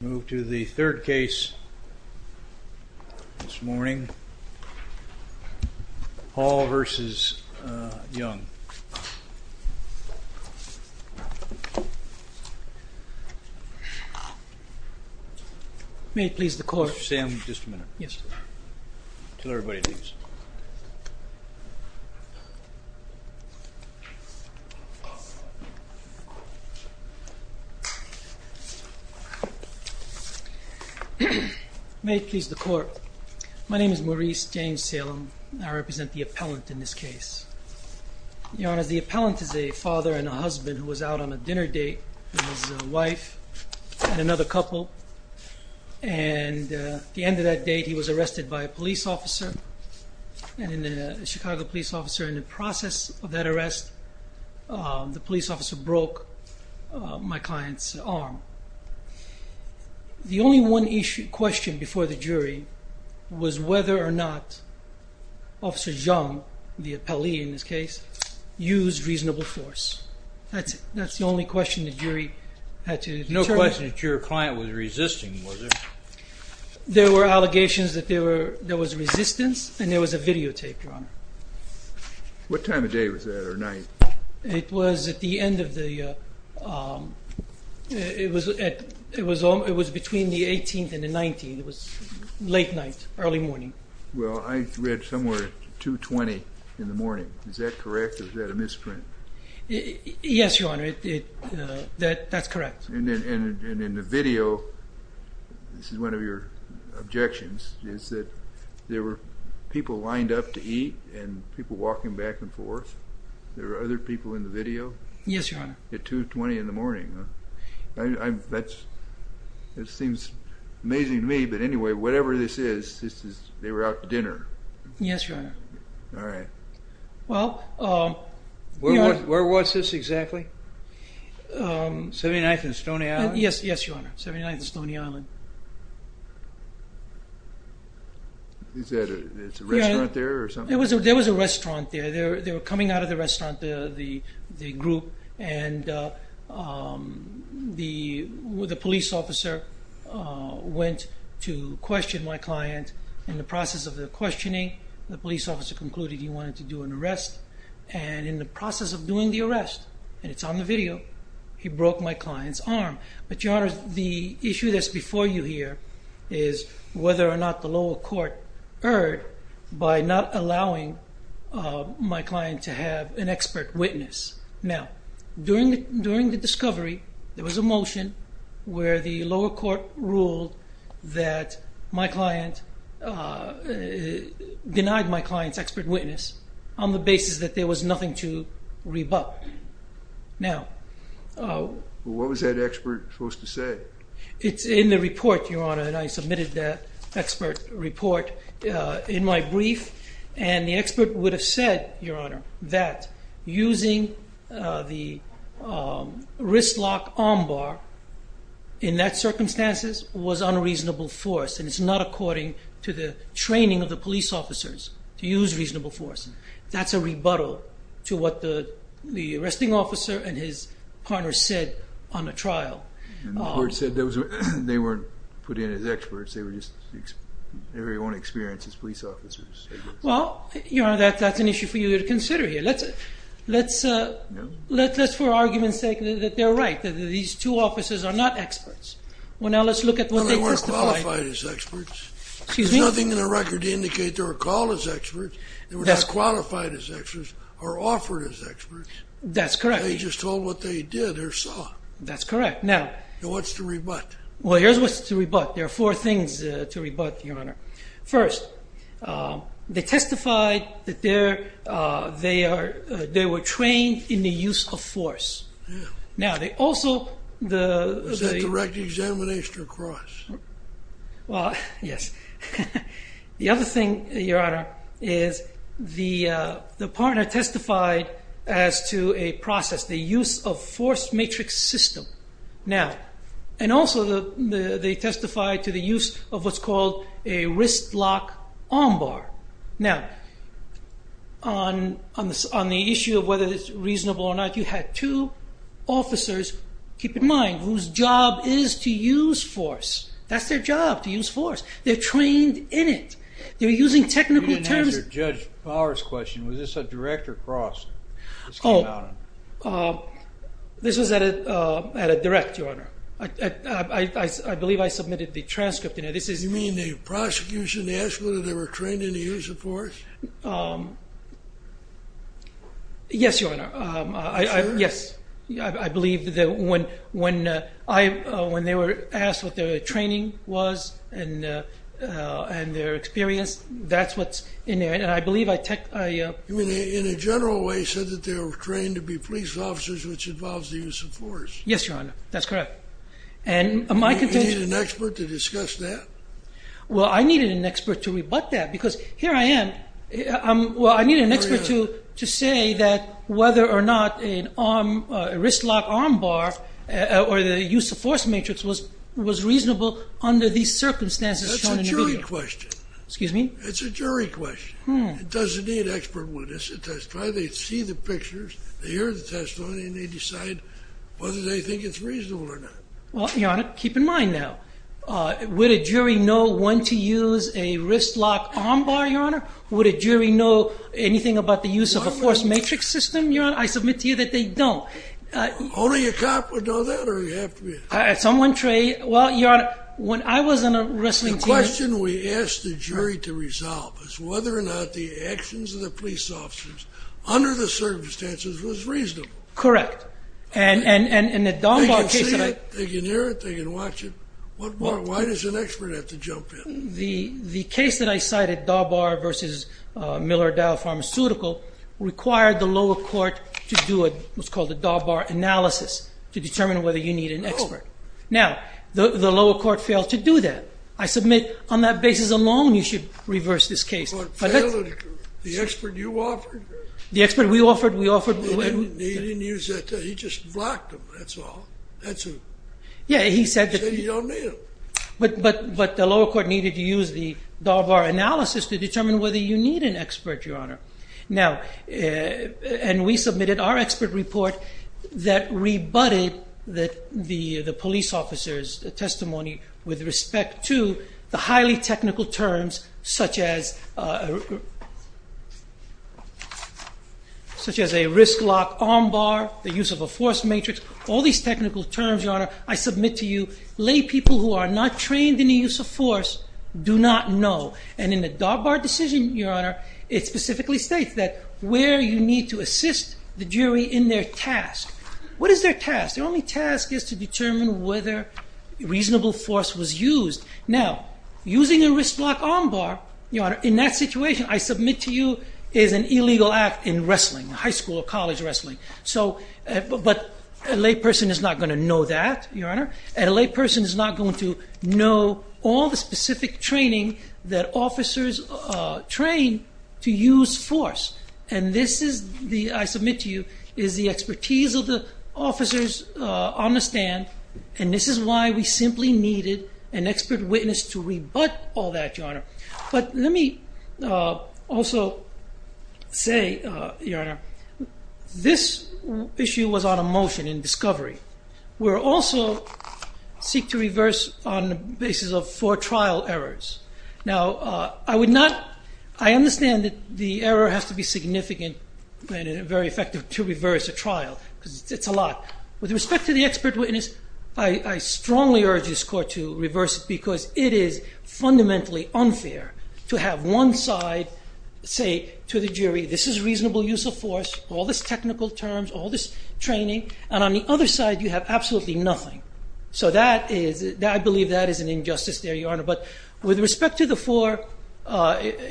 Third case of the day, Hall v. Jung May it please the court. My name is Maurice James Salem. I represent the appellant in this case. The appellant is a father and a husband who was out on a dinner date with his wife and another couple, and at the end of that date he was arrested by a police officer, a Chicago police officer, and in the process of that arrest, the police officer broke my client's arm. The only one question before the jury was whether or not Officer Jung, the appellee in this case, used reasonable force. That's the only question the jury had to determine. No question that your client was resisting, was there? There were allegations that there was resistance, and there was a videotape drawn. What time of day was that, or night? It was between the 18th and the 19th. It was late night, early morning. Well, I read somewhere 2.20 in the morning. Is that correct, or is that a misprint? Yes, Your Honor, that's correct. And in the video, this is one of your objections, is that there were people lined up to eat, and people walking back and forth. There were other people in the video? Yes, Your Honor. At 2.20 in the morning. That seems amazing to me, but anyway, whatever this is, they were out to dinner. Yes, Your Honor. All right. Where was this exactly? 79th and Stony Island? Yes, Your Honor, 79th and Stony Island. Is there a restaurant there or something? There was a restaurant there. They were coming out of the restaurant, the group, and the police officer went to question my client. In the process of the questioning, the police officer concluded he wanted to do an arrest, and in the process of doing the arrest, and it's on the video, he broke my client's arm. But, Your Honor, the issue that's before you here is whether or not the lower court erred by not allowing my client to have an expert witness. Now, during the discovery, there was a motion where the lower court ruled that my client denied my client's expert witness on the basis that there was nothing to rebut. What was that expert supposed to say? It's in the report, Your Honor, and I submitted that expert report in my brief, and the expert would have said, Your Honor, that using the wrist lock armbar in that circumstances was unreasonable force, and it's not according to the training of the police officers to use reasonable force. That's a rebuttal to what the arresting officer and his partner said on the trial. The court said they weren't put in as experts, they were just, in their own experience, as police officers. Well, Your Honor, that's an issue for you to consider here. Let's, for argument's sake, say that they're right, that these two officers are not experts. Well, now let's look at what they testified. Well, they weren't qualified as experts. Excuse me? There's nothing in the record to indicate they were called as experts, they were not qualified as experts, or offered as experts. That's correct. They just told what they did or saw. That's correct. Now... What's to rebut? Well, here's what's to rebut. There are four things to rebut, Your Honor. First, they testified that they were trained in the use of force. Now, they also... Was that direct examination or cross? Well, yes. The other thing, Your Honor, is the partner testified as to a process, the use of force matrix system. Now, and also they testified to the use of what's called a wrist lock armbar. Now, on the issue of whether it's reasonable or not, you had two officers, keep in mind, whose job is to use force. That's their job, to use force. They're trained in it. They're using technical terms... You didn't answer Judge Fowler's question. Was this a direct or cross? Oh, this was at a direct, Your Honor. I believe I submitted the transcript. You mean the prosecution asked whether they were trained in the use of force? Yes, Your Honor. Yes. I believe that when they were asked what their training was and their experience, that's what's in there, and I believe I... You mean they, in a general way, said that they were trained to be police officers, which involves the use of force? Yes, Your Honor. That's correct. You needed an expert to discuss that? Well, I needed an expert to rebut that, because here I am. Well, I needed an expert to say that whether or not a wristlock armbar or the use of force matrix was reasonable under these circumstances shown in the video. That's a jury question. Excuse me? That's a jury question. It doesn't need an expert witness. They see the pictures, they hear the testimony, and they decide whether they think it's reasonable or not. Well, Your Honor, keep in mind now, would a jury know when to use a wristlock armbar, Your Honor? Would a jury know anything about the use of a force matrix system, Your Honor? I submit to you that they don't. Only a cop would know that, or you have to be... Someone trained... Well, Your Honor, when I was on a wrestling team... The question we asked the jury to resolve is whether or not the actions of the police officers under the circumstances was reasonable. Correct. They can see it, they can hear it, they can watch it. Why does an expert have to jump in? The case that I cited, Daubar v. Miller Dow Pharmaceutical, required the lower court to do what's called a Daubar analysis to determine whether you need an expert. Now, the lower court failed to do that. I submit, on that basis alone, you should reverse this case. The expert you offered? The expert we offered, we offered... He didn't use that. He just blocked them, that's all. That's it. Yeah, he said... He said you don't need them. But the lower court needed to use the Daubar analysis to determine whether you need an expert, Your Honor. And we submitted our expert report that rebutted the police officer's testimony with respect to the highly technical terms such as a risk-lock armbar, the use of a force matrix. All these technical terms, Your Honor, I submit to you, laypeople who are not trained in the use of force do not know. And in the Daubar decision, Your Honor, it specifically states that where you need to assist the jury in their task. What is their task? Their only task is to determine whether reasonable force was used. Now, using a risk-lock armbar, Your Honor, in that situation, I submit to you, is an illegal act in wrestling, high school or college wrestling. So, but a layperson is not going to know that, Your Honor. And a layperson is not going to know all the specific training that officers train to use force. And this is the, I submit to you, is the expertise of the officers on the stand. And this is why we simply needed an expert witness to rebut all that, Your Honor. But let me also say, Your Honor, this issue was on a motion in discovery. We also seek to reverse on the basis of four trial errors. Now, I would not, I understand that the error has to be significant and very effective to reverse a trial. It's a lot. With respect to the expert witness, I strongly urge this court to reverse it because it is fundamentally unfair to have one side say to the jury, this is reasonable use of force, all this technical terms, all this training. And on the other side, you have absolutely nothing. So that is, I believe that is an injustice there, Your Honor. But with respect to the four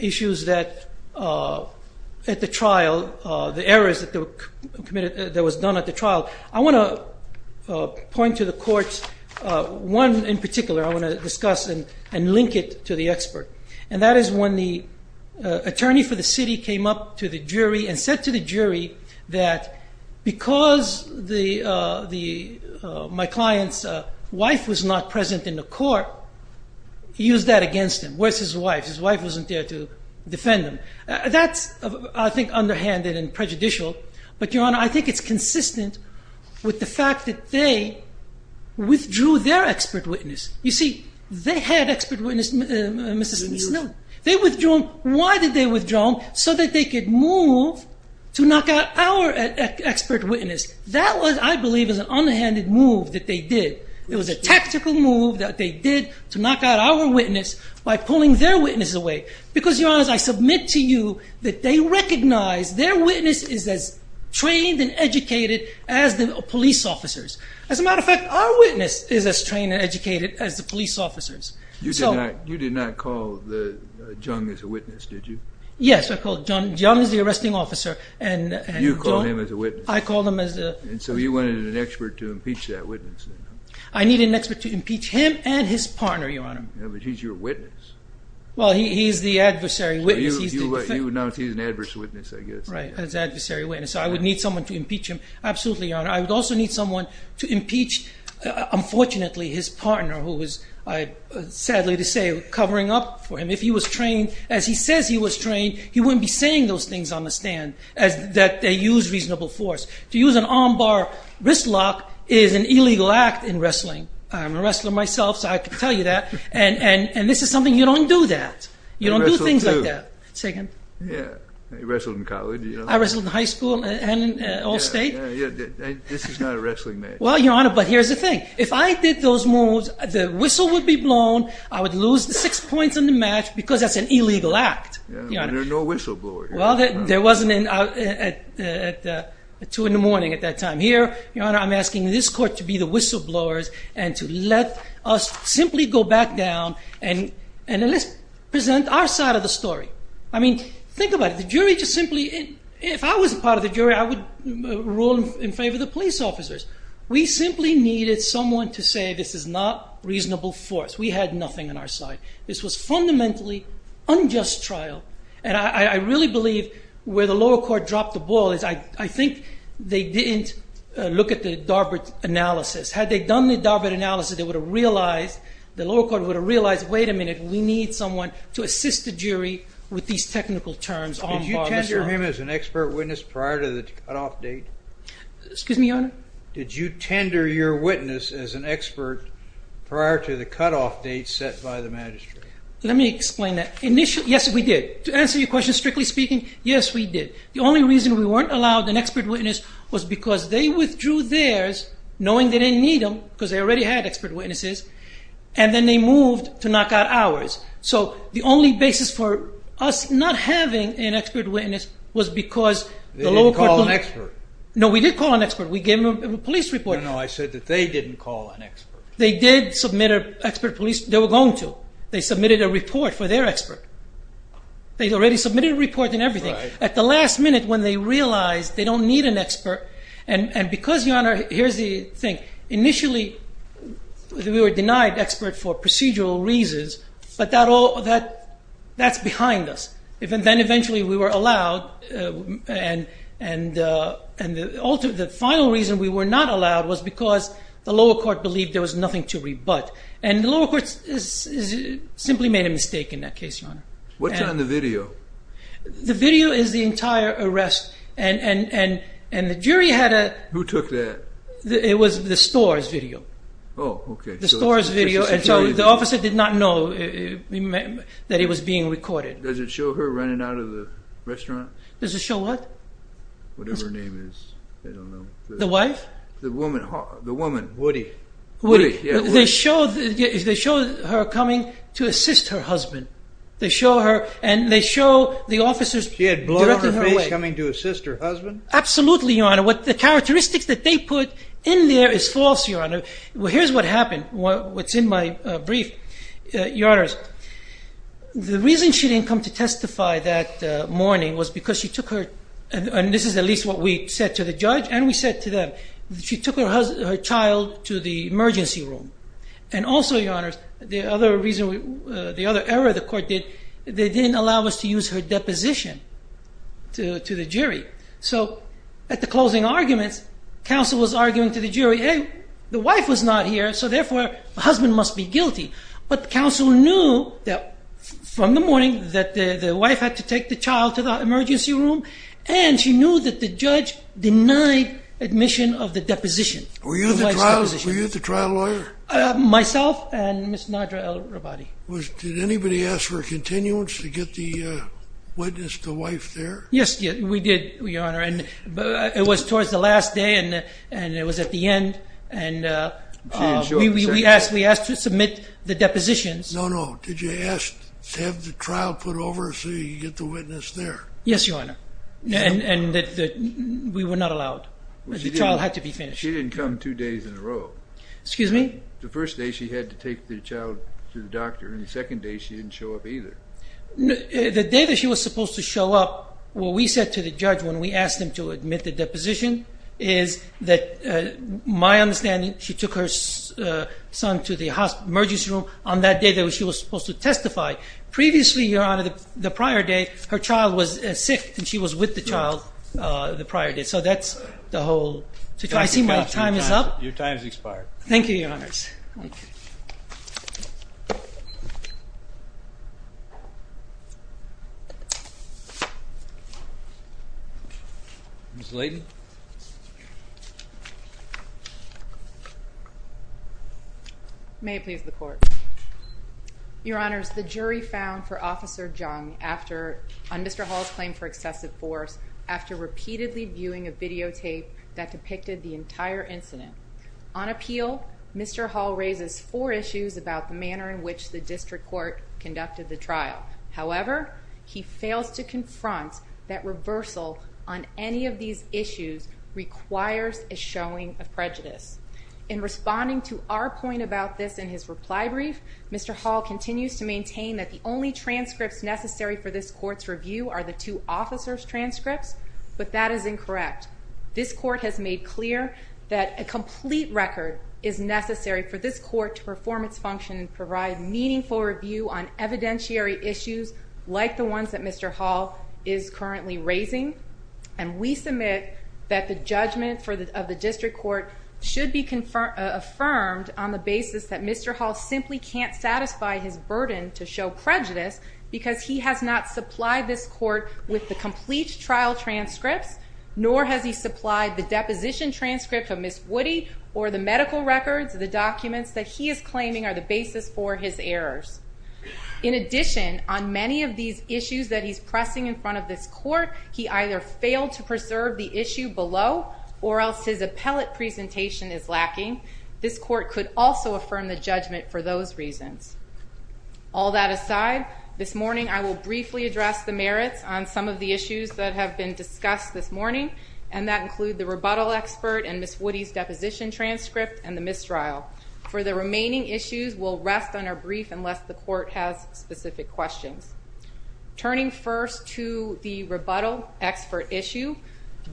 issues that at the trial, the errors that were committed, that was done at the trial, I want to point to the courts, one in particular I want to discuss and link it to the expert. And that is when the attorney for the city came up to the jury and said to the jury that because my client's wife was not present in the court, he used that against him. Where's his wife? His wife wasn't there to defend him. That's, I think, underhanded and prejudicial. But, Your Honor, I think it's consistent with the fact that they withdrew their expert witness. You see, they had expert witness, Mr. Smith. They withdrew them. Why did they withdraw them? So that they could move to knock out our expert witness. That was, I believe, an unhanded move that they did. It was a tactical move that they did to knock out our witness by pulling their witness away. Because, Your Honor, I submit to you that they recognize their witness is as trained and educated as the police officers. As a matter of fact, our witness is as trained and educated as the police officers. You did not call Jung as a witness, did you? Yes, I called Jung. Jung is the arresting officer. You called him as a witness. I called him as a witness. And so you wanted an expert to impeach that witness. I needed an expert to impeach him and his partner, Your Honor. But he's your witness. Well, he's the adversary witness. You would notice he's an adverse witness, I guess. Right, as adversary witness. I would need someone to impeach him. Absolutely, Your Honor. I would also need someone to impeach, unfortunately, his partner who was, sadly to say, covering up for him. If he was trained as he says he was trained, he wouldn't be saying those things on the stand that they use reasonable force. To use an armbar wrist lock is an illegal act in wrestling. I'm a wrestler myself, so I can tell you that. And this is something you don't do that. You don't do things like that. I wrestled, too. Say again. Yeah. I wrestled in college. I wrestled in high school and all state. This is not a wrestling match. Well, Your Honor, but here's the thing. If I did those moves, the whistle would be blown. I would lose the six points in the match because that's an illegal act. But there are no whistleblowers. Well, there wasn't at 2 in the morning at that time. Here, Your Honor, I'm asking this court to be the whistleblowers and to let us simply go back down and present our side of the story. I mean, think about it. If I was part of the jury, I would rule in favor of the police officers. We simply needed someone to say this is not reasonable force. We had nothing on our side. This was fundamentally unjust trial. And I really believe where the lower court dropped the ball is I think they didn't look at the Darbert analysis. Had they done the Darbert analysis, they would have realized, the lower court would have realized, wait a minute, we need someone to assist the jury with these technical terms. Did you tender him as an expert witness prior to the cutoff date? Excuse me, Your Honor? Did you tender your witness as an expert prior to the cutoff date set by the magistrate? Let me explain that. Yes, we did. To answer your question strictly speaking, yes, we did. The only reason we weren't allowed an expert witness was because they withdrew theirs knowing they didn't need them because they already had expert witnesses. And then they moved to knock out ours. So the only basis for us not having an expert witness was because the lower court... They didn't call an expert. No, we did call an expert. We gave them a police report. No, no, I said that they didn't call an expert. They did submit an expert police. They were going to. They submitted a report for their expert. They already submitted a report and everything. At the last minute when they realized they don't need an expert, and because, Your Honor, here's the thing. Initially, we were denied expert for procedural reasons, but that's behind us. Then eventually we were allowed, and the final reason we were not allowed was because the lower court believed there was nothing to rebut. And the lower court simply made a mistake in that case, Your Honor. What's on the video? The video is the entire arrest, and the jury had a... Who took that? It was the store's video. Oh, okay. The store's video, and so the officer did not know that it was being recorded. Does it show her running out of the restaurant? Does it show what? Whatever her name is. I don't know. The wife? The woman. Woody. Woody. They show her coming to assist her husband. They show her, and they show the officers... She had blood on her face coming to assist her husband? Absolutely, Your Honor. The characteristics that they put in there is false, Your Honor. Here's what happened, what's in my brief, Your Honors. The reason she didn't come to testify that morning was because she took her... And this is at least what we said to the judge, and we said to them. She took her child to the emergency room. And also, Your Honors, the other error the court did, they didn't allow us to use her deposition to the jury. So at the closing arguments, counsel was arguing to the jury, hey, the wife was not here, so therefore the husband must be guilty. But counsel knew from the morning that the wife had to take the child to the emergency room, and she knew that the judge denied admission of the deposition. Were you the trial lawyer? Myself and Ms. Nadra El-Rabadi. Did anybody ask for a continuance to get the witness, the wife, there? Yes, we did, Your Honor, and it was towards the last day, and it was at the end, and we asked to submit the depositions. No, no, did you ask to have the trial put over so you could get the witness there? Yes, Your Honor, and we were not allowed. The child had to be finished. She didn't come two days in a row. Excuse me? The first day she had to take the child to the doctor, and the second day she didn't show up either. The day that she was supposed to show up, what we said to the judge when we asked him to admit the deposition is that my understanding, she took her son to the emergency room on that day that she was supposed to testify. Previously, Your Honor, the prior day, her child was sick, and she was with the child the prior day. So that's the whole situation. I see my time is up. Your time has expired. Thank you, Your Honors. Thank you. Ms. Laden? May it please the Court. Your Honors, the jury found for Officer Jung on Mr. Hall's claim for excessive force after repeatedly viewing a videotape that depicted the entire incident. On appeal, Mr. Hall raises four issues about the manner in which the district court conducted the trial. However, he fails to confront that reversal on any of these issues requires a showing of prejudice. In responding to our point about this in his reply brief, Mr. Hall continues to maintain that the only transcripts necessary for this court's review are the two officers' transcripts, but that is incorrect. This court has made clear that a complete record is necessary for this court to perform its function and provide meaningful review on evidentiary issues like the ones that Mr. Hall is currently raising, and we submit that the judgment of the district court should be affirmed on the basis that Mr. Hall simply can't satisfy his burden to show prejudice because he has not supplied this court with the complete trial transcripts, nor has he supplied the deposition transcript of Ms. Woody or the medical records of the documents that he is claiming are the basis for his errors. In addition, on many of these issues that he's pressing in front of this court, he either failed to preserve the issue below or else his appellate presentation is lacking. This court could also affirm the judgment for those reasons. All that aside, this morning I will briefly address the merits on some of the issues that have been discussed this morning, and that include the rebuttal expert and Ms. Woody's deposition transcript and the mistrial. For the remaining issues, we'll rest on our brief unless the court has specific questions. Turning first to the rebuttal expert issue,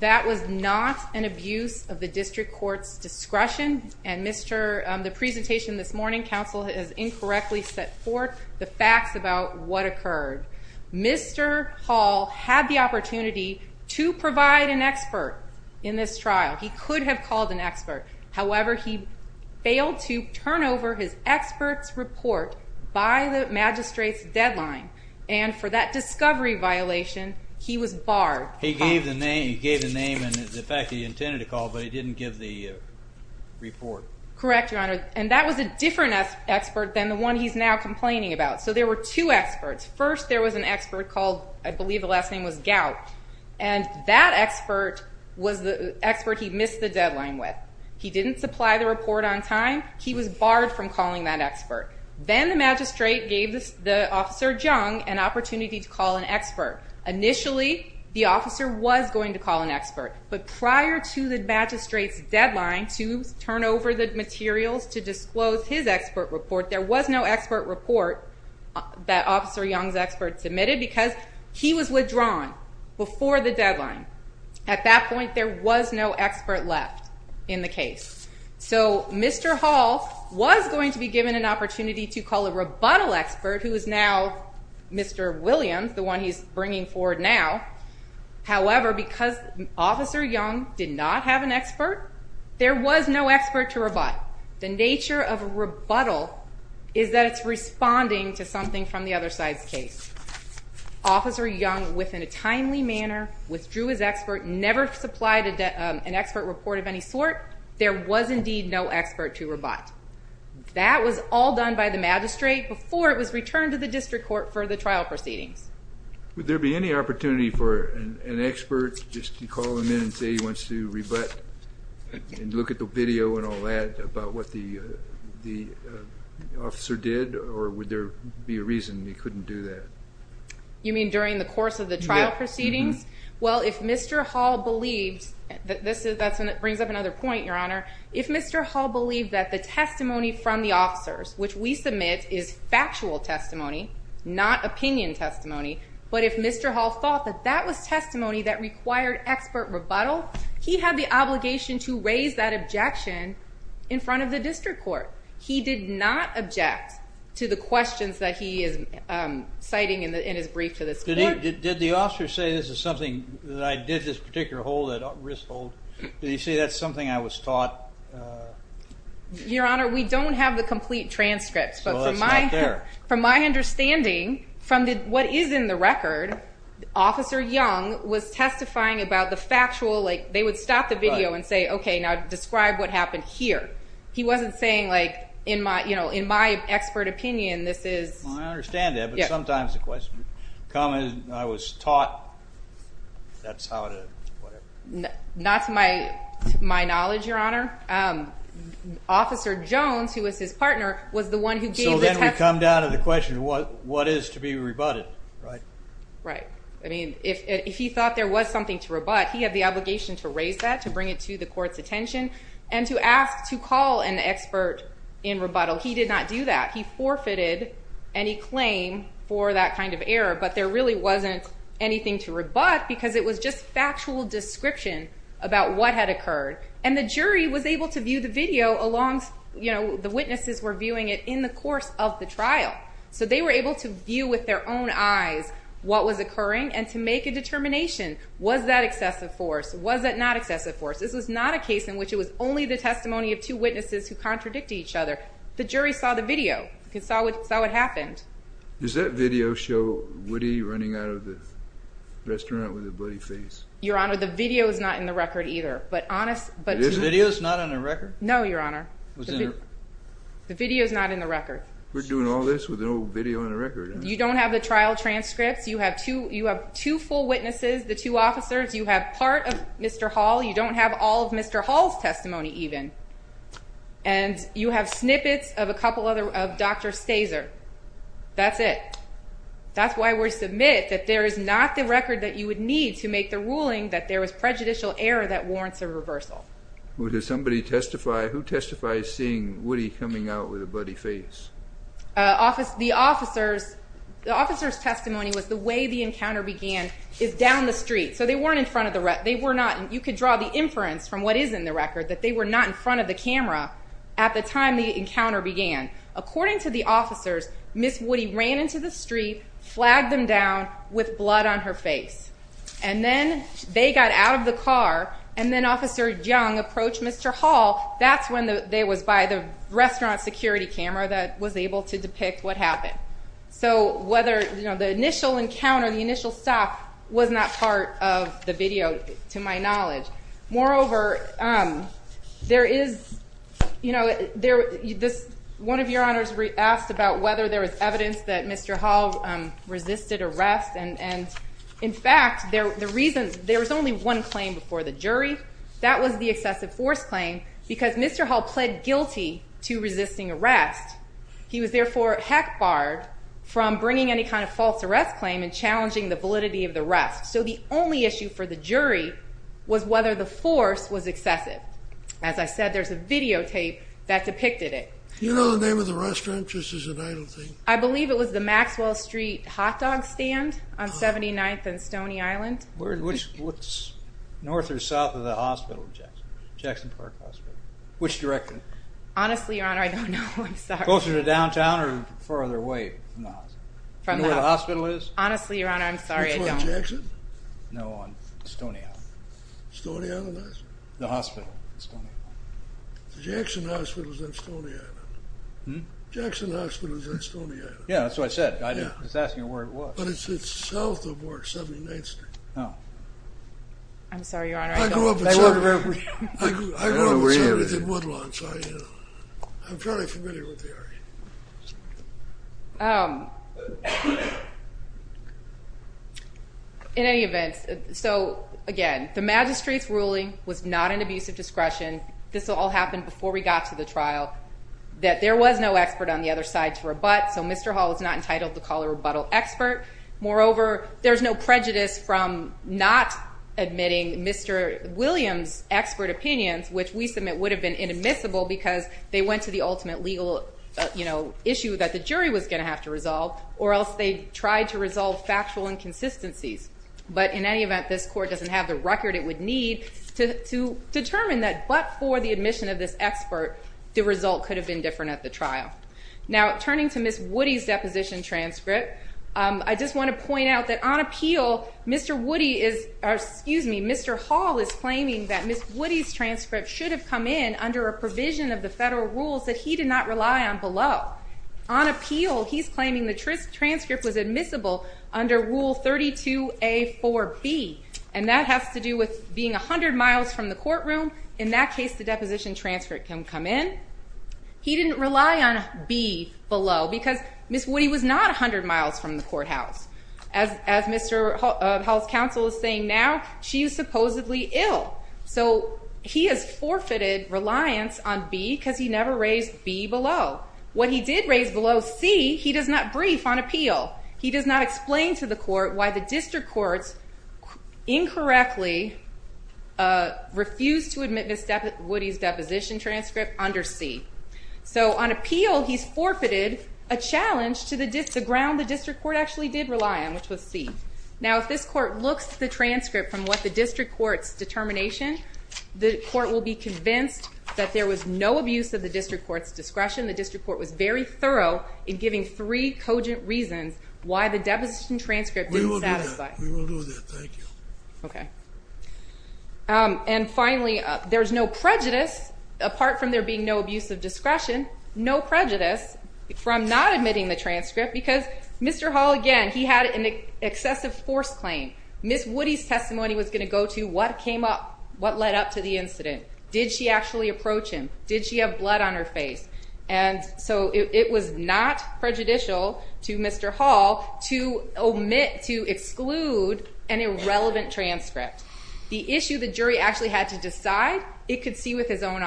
that was not an abuse of the district court's discretion, and the presentation this morning, counsel has incorrectly set forth the facts about what occurred. Mr. Hall had the opportunity to provide an expert in this trial. He could have called an expert. However, he failed to turn over his expert's report by the magistrate's deadline, and for that discovery violation, he was barred. He gave the name and the fact that he intended to call, but he didn't give the report. Correct, Your Honor, and that was a different expert than the one he's now complaining about. So there were two experts. First, there was an expert called, I believe the last name was Gout, and that expert was the expert he missed the deadline with. He didn't supply the report on time. He was barred from calling that expert. Then the magistrate gave Officer Jung an opportunity to call an expert. Initially, the officer was going to call an expert, but prior to the magistrate's deadline to turn over the materials to disclose his expert report, there was no expert report that Officer Jung's expert submitted because he was withdrawn before the deadline. At that point, there was no expert left in the case. So Mr. Hall was going to be given an opportunity to call a rebuttal expert who is now Mr. Williams, the one he's bringing forward now. However, because Officer Jung did not have an expert, there was no expert to rebut. The nature of a rebuttal is that it's responding to something from the other side's case. Officer Jung, within a timely manner, withdrew his expert, never supplied an expert report of any sort. There was indeed no expert to rebut. That was all done by the magistrate before it was returned to the district court for the trial proceedings. Would there be any opportunity for an expert just to call him in and say he wants to rebut and look at the video and all that about what the officer did? Or would there be a reason he couldn't do that? You mean during the course of the trial proceedings? Well, if Mr. Hall believed, that brings up another point, Your Honor. If Mr. Hall believed that the testimony from the officers, which we submit is factual testimony, not opinion testimony, but if Mr. Hall thought that that was testimony that required expert rebuttal, he had the obligation to raise that objection in front of the district court. He did not object to the questions that he is citing in his brief to this court. Did the officer say this is something that I did this particular risk hold? Did he say that's something I was taught? Your Honor, we don't have the complete transcripts. Well, that's not there. From my understanding, from what is in the record, Officer Young was testifying about the factual, like they would stop the video and say, okay, now describe what happened here. He wasn't saying, like, in my expert opinion, this is. I understand that, but sometimes the question, the comment is I was taught that's how to, whatever. Not to my knowledge, Your Honor. Officer Jones, who was his partner, was the one who gave the testimony. So then we come down to the question of what is to be rebutted, right? Right. I mean, if he thought there was something to rebut, he had the obligation to raise that, to bring it to the court's attention, and to ask to call an expert in rebuttal. He did not do that. He forfeited any claim for that kind of error, but there really wasn't anything to rebut because it was just factual description about what had occurred. And the jury was able to view the video along, you know, the witnesses were viewing it in the course of the trial. So they were able to view with their own eyes what was occurring and to make a determination. Was that excessive force? Was it not excessive force? This was not a case in which it was only the testimony of two witnesses who contradict each other. The jury saw the video. They saw what happened. Does that video show Woody running out of the restaurant with a bloody face? Your Honor, the video is not in the record either. Is the video not on the record? No, Your Honor. The video is not in the record. We're doing all this with no video on the record. You don't have the trial transcripts. You have two full witnesses, the two officers. You have part of Mr. Hall. You don't have all of Mr. Hall's testimony even. And you have snippets of a couple of Dr. Staser. That's it. That's why we submit that there is not the record that you would need to make the ruling that there was prejudicial error that warrants a reversal. Does somebody testify? Who testifies seeing Woody coming out with a bloody face? The officer's testimony was the way the encounter began is down the street. So they weren't in front of the rest. They were not. You could draw the inference from what is in the record that they were not in front of the camera at the time the encounter began. According to the officers, Ms. Woody ran into the street, flagged them down with blood on her face, and then they got out of the car, and then Officer Young approached Mr. Hall. That's when they was by the restaurant security camera that was able to depict what happened. The initial encounter, the initial stop, was not part of the video to my knowledge. Moreover, one of your honors asked about whether there was evidence that Mr. Hall resisted arrest. In fact, there was only one claim before the jury. That was the excessive force claim because Mr. Hall pled guilty to resisting arrest. He was, therefore, heck barred from bringing any kind of false arrest claim and challenging the validity of the rest. So the only issue for the jury was whether the force was excessive. As I said, there's a videotape that depicted it. Do you know the name of the restaurant? Just as an idle thing. I believe it was the Maxwell Street Hot Dog Stand on 79th and Stony Island. Which, north or south of the hospital? Jackson Park Hospital. Which direction? Honestly, Your Honor, I don't know. I'm sorry. Closer to downtown or farther away from the hospital? From the hospital. Do you know where the hospital is? Honestly, Your Honor, I'm sorry, I don't. Which one? Jackson? No, on Stony Island. Stony Island is? The hospital, Stony Island. The Jackson Hospital is on Stony Island. Jackson Hospital is on Stony Island. Yeah, that's what I said. I was asking you where it was. But it's south of where 79th Street is. Oh. I'm sorry, Your Honor, I don't know. I grew up in Woodlawn, so I'm fairly familiar with the area. In any event, so again, the magistrate's ruling was not an abuse of discretion. This all happened before we got to the trial. That there was no expert on the other side to rebut, so Mr. Hall is not entitled to call a rebuttal expert. Moreover, there's no prejudice from not admitting Mr. Williams' expert opinions, which we submit would have been inadmissible because they went to the ultimate legal issue that the jury was going to have to resolve, or else they tried to resolve factual inconsistencies. But in any event, this court doesn't have the record it would need to determine that but for the admission of this expert, the result could have been different at the trial. Now, turning to Ms. Woody's deposition transcript, I just want to point out that on appeal, Mr. Woody is, or excuse me, Mr. Hall is claiming that Ms. Woody's transcript should have come in under a provision of the federal rules that he did not rely on below. On appeal, he's claiming the transcript was admissible under Rule 32A-4B, and that has to do with being 100 miles from the courtroom. In that case, the deposition transcript can come in. He didn't rely on B below because Ms. Woody was not 100 miles from the courthouse. As Mr. Hall's counsel is saying now, she is supposedly ill. So he has forfeited reliance on B because he never raised B below. What he did raise below C, he does not brief on appeal. He does not explain to the court why the district courts incorrectly refused to admit Ms. Woody's deposition transcript under C. So on appeal, he's forfeited a challenge to the ground the district court actually did rely on, which was C. Now, if this court looks at the transcript from what the district court's determination, the court will be convinced that there was no abuse of the district court's discretion. The district court was very thorough in giving three cogent reasons why the deposition transcript didn't satisfy. We will do that. We will do that. Thank you. Okay. And finally, there's no prejudice, apart from there being no abuse of discretion, no prejudice from not admitting the transcript because Mr. Hall, again, he had an excessive force claim. Ms. Woody's testimony was going to go to what came up, what led up to the incident. Did she actually approach him? Did she have blood on her face? And so it was not prejudicial to Mr. Hall to omit, to exclude an irrelevant transcript. The issue the jury actually had to decide, it could see with its own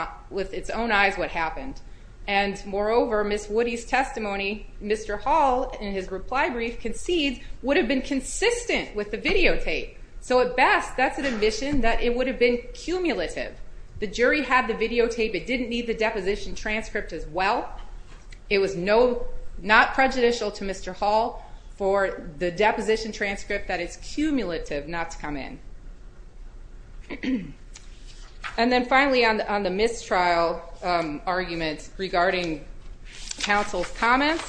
eyes what happened. And moreover, Ms. Woody's testimony, Mr. Hall in his reply brief concedes, would have been consistent with the videotape. So at best, that's an admission that it would have been cumulative. The jury had the videotape. It didn't need the deposition transcript as well. It was not prejudicial to Mr. Hall for the deposition transcript that it's cumulative not to come in. And then finally, on the mistrial argument regarding counsel's comments,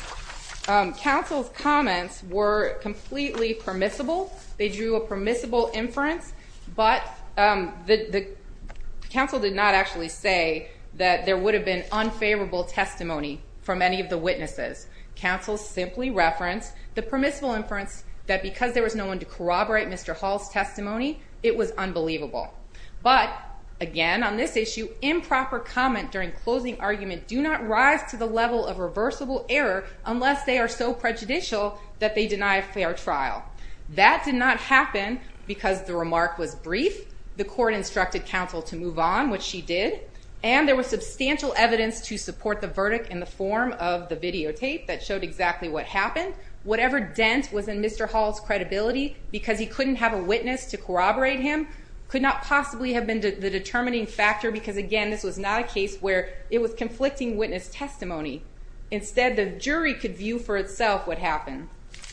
counsel's comments were completely permissible. They drew a permissible inference, but the counsel did not actually say that there would have been unfavorable testimony from any of the witnesses. Counsel simply referenced the permissible inference that because there was no one to corroborate Mr. Hall's testimony, it was unbelievable. But again, on this issue, improper comment during closing argument do not rise to the level of reversible error unless they are so prejudicial that they deny a fair trial. That did not happen because the remark was brief. The court instructed counsel to move on, which she did, and there was substantial evidence to support the verdict in the form of the videotape that showed exactly what happened. Whatever dent was in Mr. Hall's credibility because he couldn't have a witness to corroborate him could not possibly have been the determining factor because, again, this was not a case where it was conflicting witness testimony. Instead, the jury could view for itself what happened.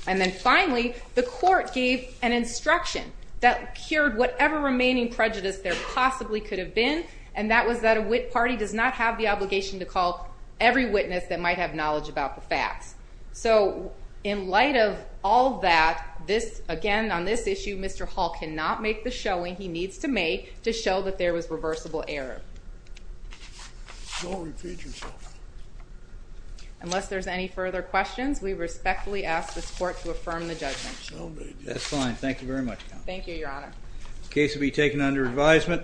And then finally, the court gave an instruction that cured whatever remaining prejudice there possibly could have been, and that was that a wit party does not have the obligation to call every witness that might have knowledge about the facts. So in light of all that, this, again, on this issue, Mr. Hall cannot make the showing he needs to make to show that there was reversible error. Don't repeat yourself. Unless there's any further questions, we respectfully ask this court to affirm the judgment. So be it. That's fine. Thank you very much, Counsel. Thank you, Your Honor. The case will be taken under advisement.